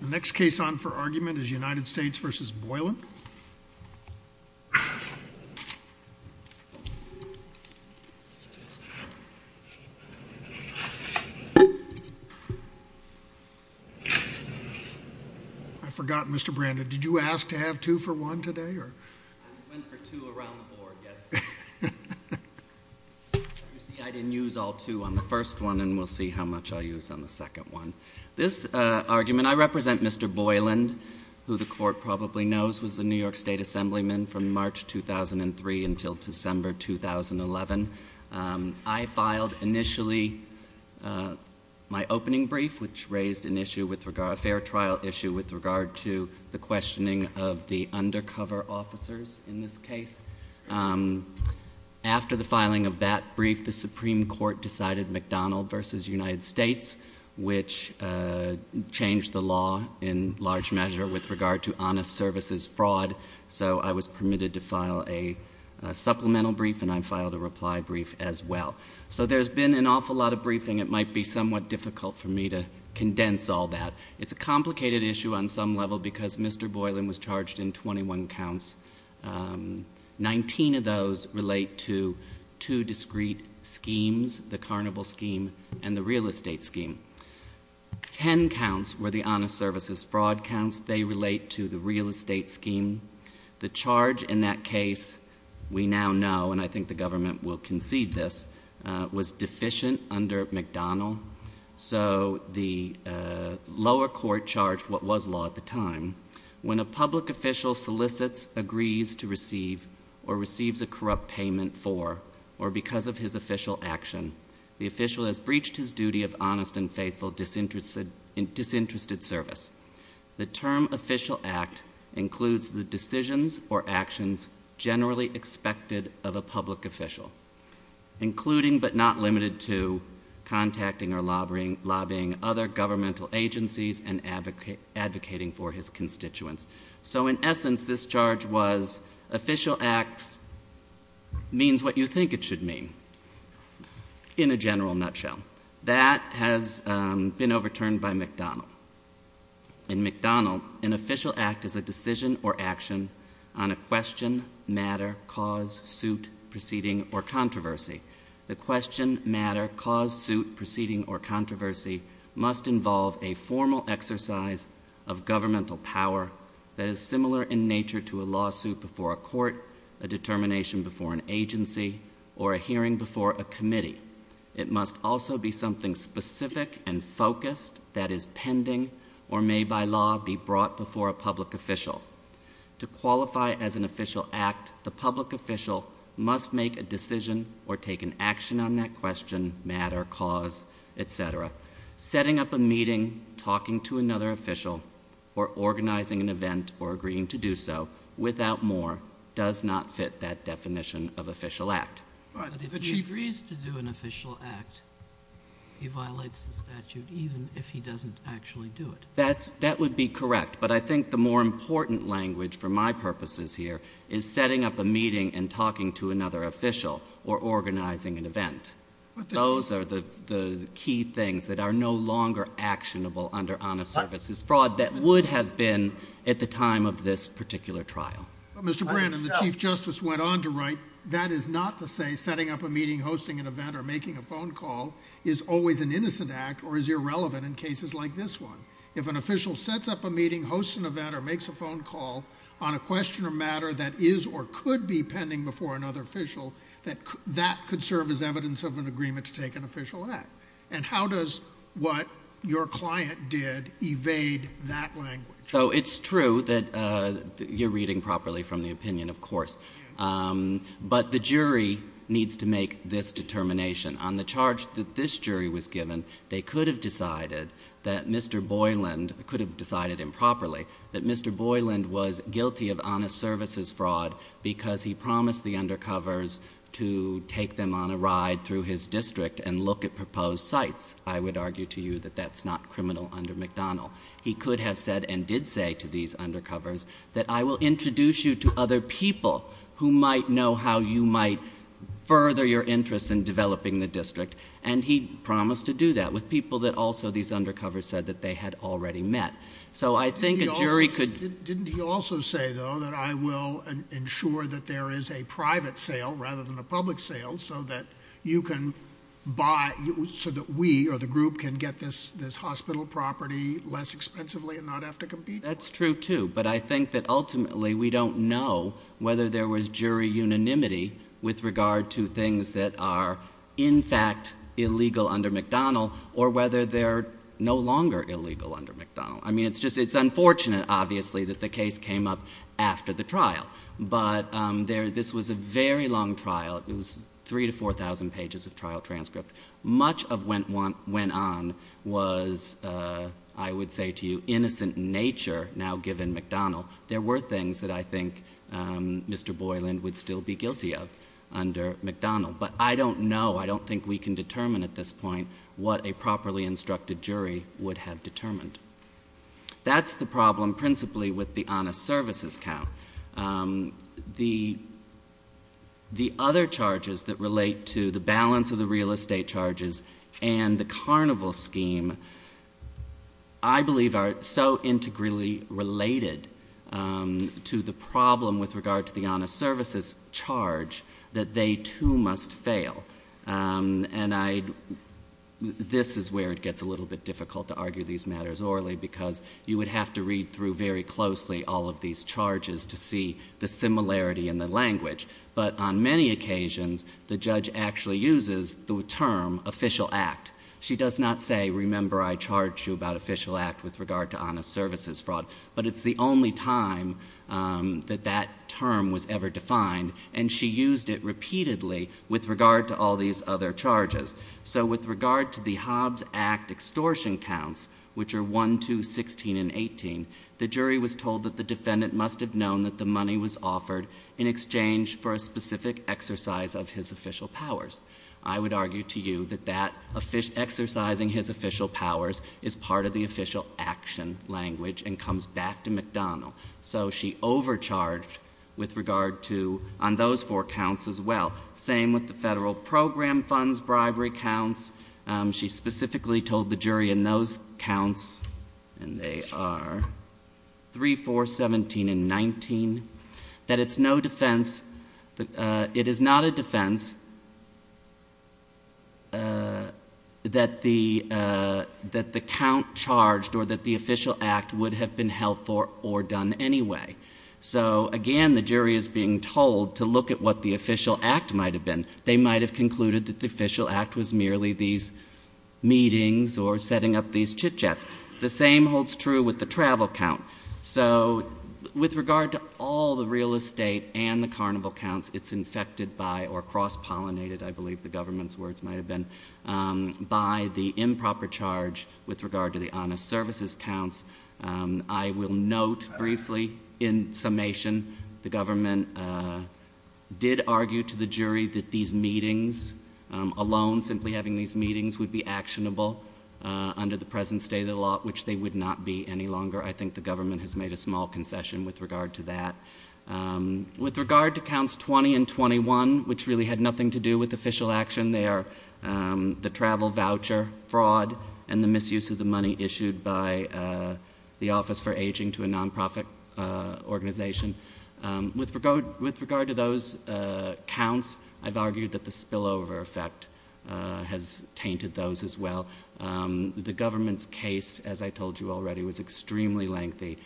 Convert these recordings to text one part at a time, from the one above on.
The next case on for argument is United States v. Boylan. I forgot, Mr. Brandon, did you ask to have two for one today? I went for two around the board, yes. You see, I didn't use all two on the first one, and we'll see how much I'll use on the second one. This argument, I represent Mr. Boylan, who the court probably knows was the New York State Assemblyman from March 2003 until December 2011. I filed initially my opening brief, which raised a fair trial issue with regard to the questioning of the undercover officers in this case. After the filing of that brief, the Supreme Court decided McDonald v. United States, which changed the law in large measure with regard to honest services fraud. So I was permitted to file a supplemental brief, and I filed a reply brief as well. So there's been an awful lot of briefing. It might be somewhat difficult for me to condense all that. It's a complicated issue on some level because Mr. Boylan was charged in 21 counts. Nineteen of those relate to two discrete schemes, the carnival scheme and the real estate scheme. Ten counts were the honest services fraud counts. They relate to the real estate scheme. The charge in that case, we now know, and I think the government will concede this, was deficient under McDonald. So the lower court charged what was law at the time. When a public official solicits, agrees to receive, or receives a corrupt payment for or because of his official action, the official has breached his duty of honest and faithful disinterested service. The term official act includes the decisions or actions generally expected of a public official, including but not limited to contacting or lobbying other governmental agencies and advocating for his constituents. So in essence, this charge was official act means what you think it should mean in a general nutshell. That has been overturned by McDonald. In McDonald, an official act is a decision or action on a question, matter, cause, suit, proceeding, or controversy. The question, matter, cause, suit, proceeding, or controversy must involve a formal exercise of governmental power that is similar in nature to a lawsuit before a court, a determination before an agency, or a hearing before a committee. It must also be something specific and focused that is pending or may by law be brought before a public official. To qualify as an official act, the public official must make a decision or take an action on that question, matter, cause, etc. Setting up a meeting, talking to another official, or organizing an event or agreeing to do so without more does not fit that definition of official act. But if he agrees to do an official act, he violates the statute even if he doesn't actually do it. That would be correct, but I think the more important language for my purposes here is setting up a meeting and talking to another official or organizing an event. Those are the key things that are no longer actionable under honest services fraud that would have been at the time of this particular trial. Mr. Brannon, the Chief Justice went on to write, that is not to say setting up a meeting, hosting an event, or making a phone call is always an innocent act or is irrelevant in cases like this one. If an official sets up a meeting, hosts an event, or makes a phone call on a question or matter that is or could be pending before another official, that could serve as evidence of an agreement to take an official act. And how does what your client did evade that language? So it's true that you're reading properly from the opinion, of course. But the jury needs to make this determination. On the charge that this jury was given, they could have decided that Mr. Boyland, could have decided improperly, that Mr. Boyland was guilty of honest services fraud because he promised the undercovers to take them on a ride through his district and look at proposed sites. I would argue to you that that's not criminal under McDonnell. He could have said and did say to these undercovers that I will introduce you to other people who might know how you might further your interest in developing the district. And he promised to do that with people that also these undercovers said that they had already met. So I think a jury could- That's true, too. But I think that ultimately we don't know whether there was jury unanimity with regard to things that are in fact illegal under McDonnell or whether they're no longer illegal under McDonnell. I mean, it's unfortunate, obviously, that the case came up after the trial. But this was a very long trial. It was 3,000 to 4,000 pages of trial transcript. Much of what went on was, I would say to you, innocent in nature now given McDonnell. There were things that I think Mr. Boyland would still be guilty of under McDonnell. But I don't know, I don't think we can determine at this point what a properly instructed jury would have determined. That's the problem principally with the honest services count. The other charges that relate to the balance of the real estate charges and the carnival scheme, I believe, are so integrally related to the problem with regard to the honest services charge that they, too, must fail. This is where it gets a little bit difficult to argue these matters orally because you would have to read through very closely all of these charges to see the similarity in the language. But on many occasions, the judge actually uses the term official act. She does not say, remember I charged you about official act with regard to honest services fraud. But it's the only time that that term was ever defined, and she used it repeatedly with regard to all these other charges. So with regard to the Hobbs Act extortion counts, which are 1, 2, 16, and 18, the jury was told that the defendant must have known that the money was offered in exchange for a specific exercise of his official powers. I would argue to you that exercising his official powers is part of the official action language and comes back to McDonnell. So she overcharged with regard to, on those four counts as well. Same with the federal program funds bribery counts. She specifically told the jury in those counts, and they are 3, 4, 17, and 19, that it is not a defense that the count charged or that the official act would have been held for or done anyway. So again, the jury is being told to look at what the official act might have been. They might have concluded that the official act was merely these meetings or setting up these chit-chats. The same holds true with the travel count. So with regard to all the real estate and the carnival counts, it's infected by or cross-pollinated, I believe the government's words might have been, by the improper charge with regard to the honest services counts. I will note briefly, in summation, the government did argue to the jury that these meetings alone, simply having these meetings, would be actionable under the present state of the law, which they would not be any longer. I think the government has made a small concession with regard to that. With regard to counts 20 and 21, which really had nothing to do with official action there, the travel voucher fraud and the misuse of the money issued by the Office for Aging to a nonprofit organization, with regard to those counts, I've argued that the spillover effect has tainted those as well. The government's case, as I told you already, was extremely lengthy.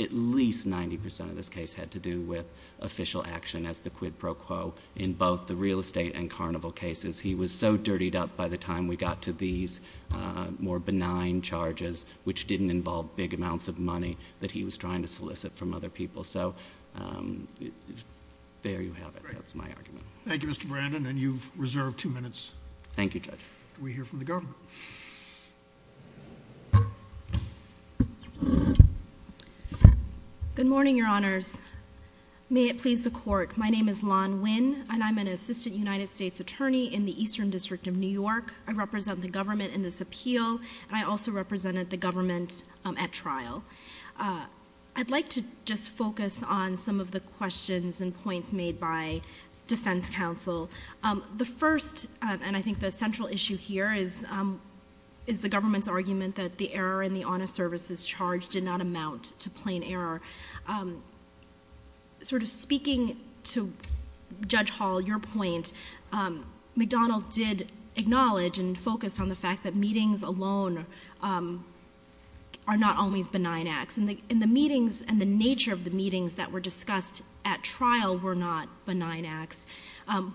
At least 90% of this case had to do with official action as the quid pro quo in both the real estate and carnival cases. He was so dirtied up by the time we got to these more benign charges, which didn't involve big amounts of money that he was trying to solicit from other people. So there you have it. That's my argument. Thank you, Mr. Brandon. And you've reserved two minutes. Thank you, Judge. We hear from the government. Good morning, Your Honors. May it please the Court, my name is Lan Nguyen, and I'm an assistant United States attorney in the Eastern District of New York. I represent the government in this appeal, and I also represented the government at trial. I'd like to just focus on some of the questions and points made by defense counsel. The first, and I think the central issue here, is the government's argument that the error in the honest services charge did not amount to plain error. Sort of speaking to Judge Hall, your point, McDonald did acknowledge and focus on the fact that meetings alone are not always benign acts. And the meetings and the nature of the meetings that were discussed at trial were not benign acts.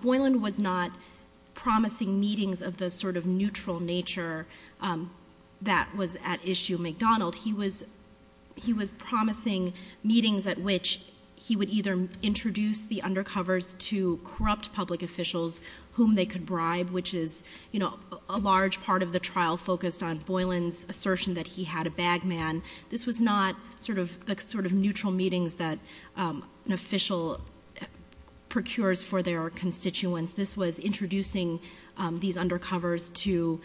Boylan was not promising meetings of the sort of neutral nature that was at issue at McDonald. He was promising meetings at which he would either introduce the undercovers to corrupt public officials whom they could bribe, which is a large part of the trial focused on Boylan's assertion that he had a bag man. This was not the sort of neutral meetings that an official procures for their constituents. This was introducing these undercovers to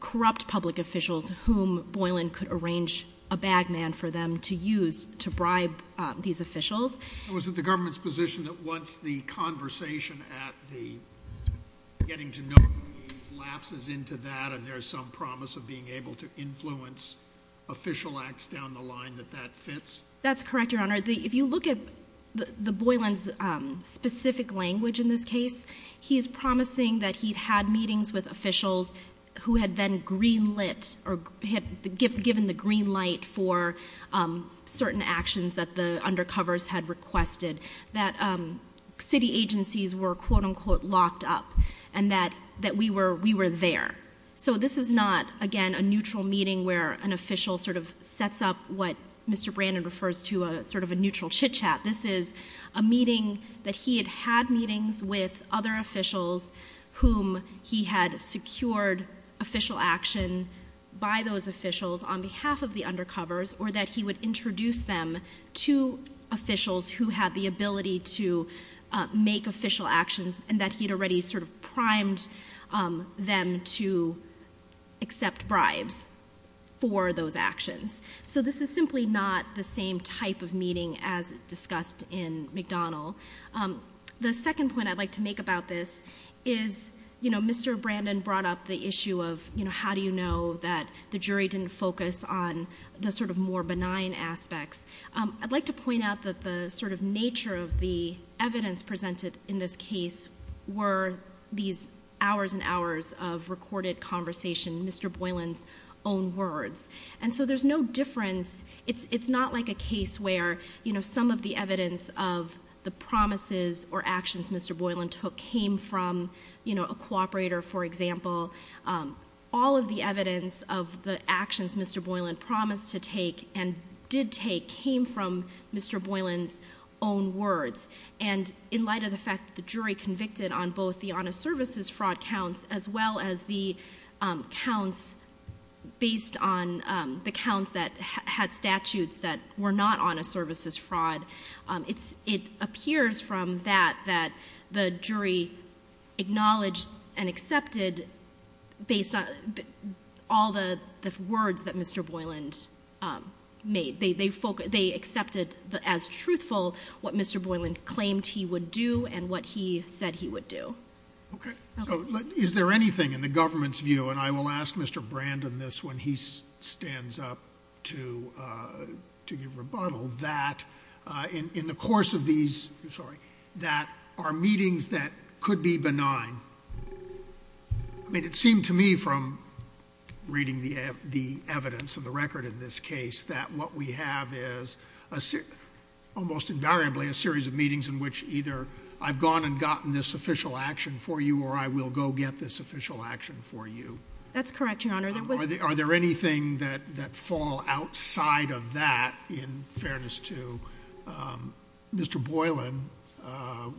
corrupt public officials whom Boylan could arrange a bag man for them to use to bribe these officials. It was at the government's position that once the conversation at the getting to know lapses into that and there's some promise of being able to influence official acts down the line that that fits? That's correct, Your Honor. If you look at the Boylan's specific language in this case, he's promising that he'd had meetings with officials who had then greenlit or had given the green light for certain actions that the undercovers had requested. That city agencies were quote unquote locked up and that we were there. So this is not, again, a neutral meeting where an official sort of sets up what Mr. Brandon refers to as sort of a neutral chit chat. This is a meeting that he had had meetings with other officials whom he had secured official action by those officials on behalf of the undercovers or that he would introduce them to officials who had the ability to make official actions and that he had already sort of primed them to accept bribes for those actions. So this is simply not the same type of meeting as discussed in McDonald. The second point I'd like to make about this is, you know, Mr. Brandon brought up the issue of, you know, how do you know that the jury didn't focus on the sort of more benign aspects? I'd like to point out that the sort of nature of the evidence presented in this case were these hours and hours of recorded conversation, Mr. Boylan's own words. And so there's no difference, it's not like a case where, you know, some of the evidence of the promises or actions Mr. Boylan took came from, you know, a cooperator, for example. All of the evidence of the actions Mr. Boylan promised to take and did take came from Mr. Boylan's own words. And in light of the fact that the jury convicted on both the honest services fraud counts as well as the counts based on the counts that had statutes that were not honest services fraud, it appears from that that the jury acknowledged and accepted based on all the words that Mr. Boylan made. They accepted as truthful what Mr. Boylan claimed he would do and what he said he would do. Okay. So is there anything in the government's view, and I will ask Mr. Brandon this when he stands up to give rebuttal, that in the course of these, sorry, that are meetings that could be benign, I mean it seemed to me from reading the evidence of the record in this case that what we have is almost invariably a series of meetings in which either I've gone and gotten this official action for you or I will go get this official action for you. That's correct, Your Honor. Are there anything that fall outside of that, in fairness to Mr. Boylan,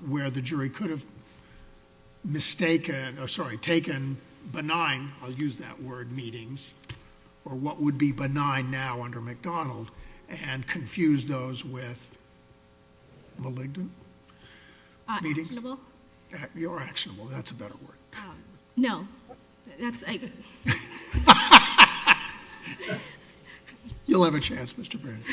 where the jury could have mistaken, or sorry, taken benign, I'll use that word, meetings, or what would be benign now under McDonald and confuse those with malignant meetings? Actionable. You're actionable. That's a better word. No. You'll have a chance, Mr. Brandon.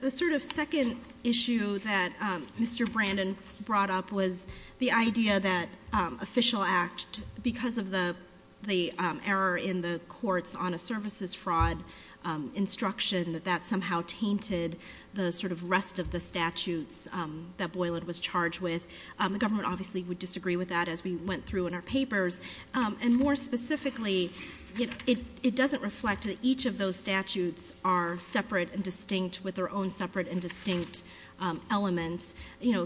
The sort of second issue that Mr. Brandon brought up was the idea that official act, because of the error in the courts on a services fraud instruction, that that somehow tainted the sort of rest of the statutes that Boylan was charged with. The government obviously would disagree with that as we went through in our papers. And more specifically, it doesn't reflect that each of those statutes are separate and distinct with their own separate and distinct elements.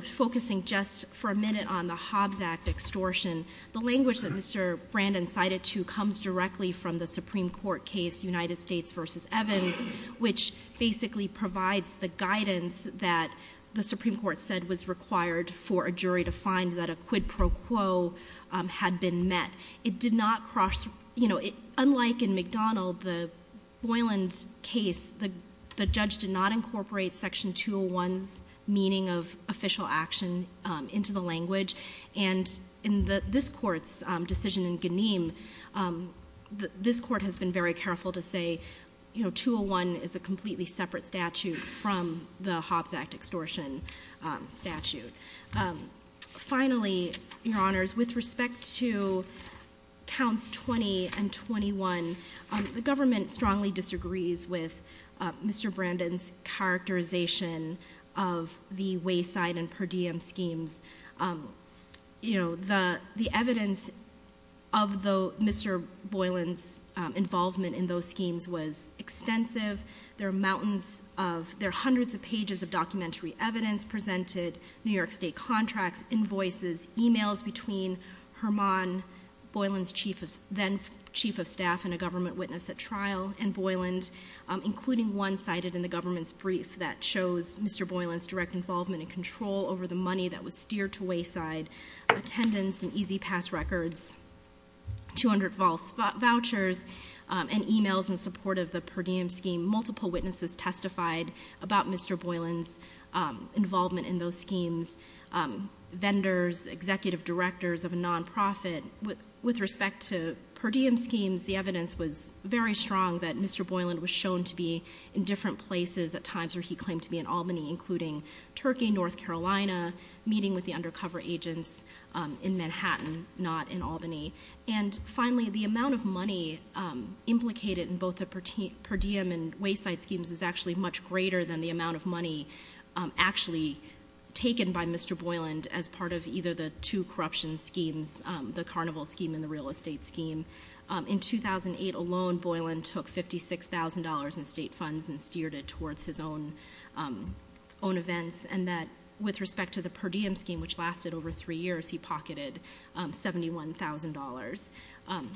Focusing just for a minute on the Hobbs Act extortion, the language that Mr. Brandon cited to comes directly from the Supreme Court case, United States v. Evans, which basically provides the guidance that the Supreme Court said was required for a jury to find that a quid pro quo had been met. It did not cross, you know, unlike in McDonald, the Boylan case, the judge did not incorporate Section 201's meaning of official action into the language. And in this court's decision in Ganeem, this court has been very careful to say, you know, Finally, your honors, with respect to counts 20 and 21, the government strongly disagrees with Mr. Brandon's characterization of the Wayside and Per Diem schemes. You know, the evidence of Mr. Boylan's involvement in those schemes was extensive. There are mountains of, there are hundreds of pages of documentary evidence presented, New York State contracts, invoices, emails between Hermon, Boylan's then Chief of Staff and a government witness at trial, and Boylan, including one cited in the government's brief that shows Mr. Boylan's direct involvement and control over the money that was steered to Wayside. Attendance and easy pass records, 200 false vouchers, and emails in support of the Per Diem scheme. Multiple witnesses testified about Mr. Boylan's involvement in those schemes. Vendors, executive directors of a non-profit, with respect to Per Diem schemes, the evidence was very strong that Mr. Boylan was shown to be in different places at times where he claimed to be in Albany, including Turkey, North Carolina, meeting with the undercover agents in Manhattan, not in Albany. And finally, the amount of money implicated in both the Per Diem and Wayside schemes is actually much greater than the amount of money actually taken by Mr. Boylan as part of either the two corruption schemes, the carnival scheme and the real estate scheme. In 2008 alone, Boylan took $56,000 in state funds and steered it towards his own events. And that with respect to the Per Diem scheme, which lasted over three years, he pocketed $71,000.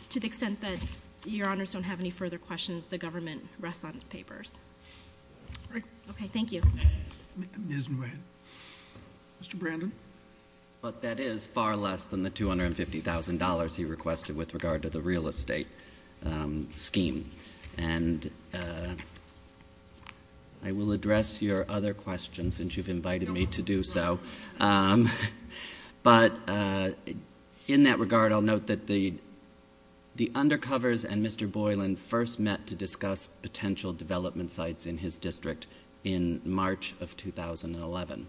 To the extent that your honors don't have any further questions, the government rests on its papers. Okay, thank you. Mr. Brandon. But that is far less than the $250,000 he requested with regard to the real estate scheme. And I will address your other questions since you've invited me to do so. But in that regard, I'll note that the undercovers and Mr. Boylan first met to discuss potential development sites in his district in March of 2011.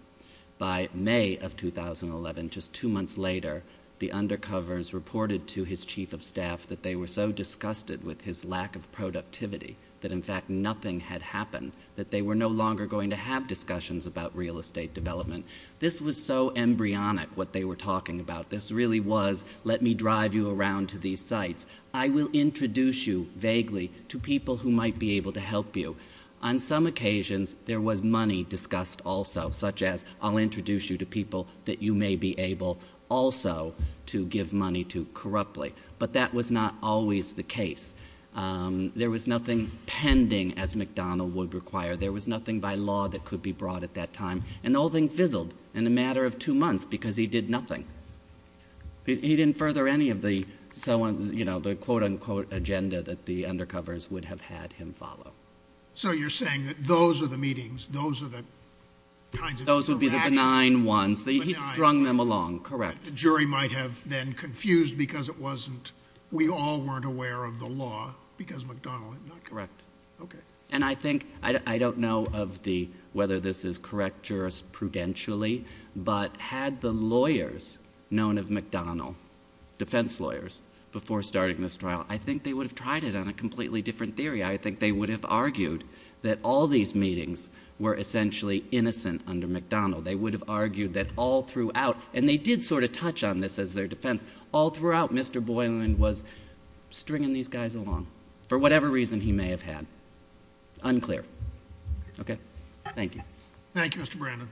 By May of 2011, just two months later, the undercovers reported to his chief of staff that they were so disgusted with his lack of productivity that in fact nothing had happened, that they were no longer going to have discussions about real estate development. This was so embryonic what they were talking about. This really was let me drive you around to these sites. I will introduce you vaguely to people who might be able to help you. On some occasions, there was money discussed also, such as I'll introduce you to people that you may be able also to give money to corruptly. But that was not always the case. There was nothing pending as McDonald would require. There was nothing by law that could be brought at that time. And the whole thing fizzled in a matter of two months because he did nothing. He didn't further any of the quote-unquote agenda that the undercovers would have had him follow. So you're saying that those are the meetings, those are the kinds of interactions. Those would be the benign ones. He strung them along, correct. The jury might have then confused because it wasn't, we all weren't aware of the law because McDonald had not. Correct. Okay. And I think, I don't know of the, whether this is correct jurisprudentially, but had the lawyers known of McDonald, defense lawyers, before starting this trial, I think they would have tried it on a completely different theory. I think they would have argued that all these meetings were essentially innocent under McDonald. They would have argued that all throughout, and they did sort of touch on this as their defense, all throughout Mr. Boylan was stringing these guys along for whatever reason he may have had. Unclear. Okay. Thank you. Thank you, Mr. Brandon.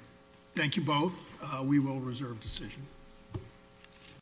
Thank you both. We will reserve decision.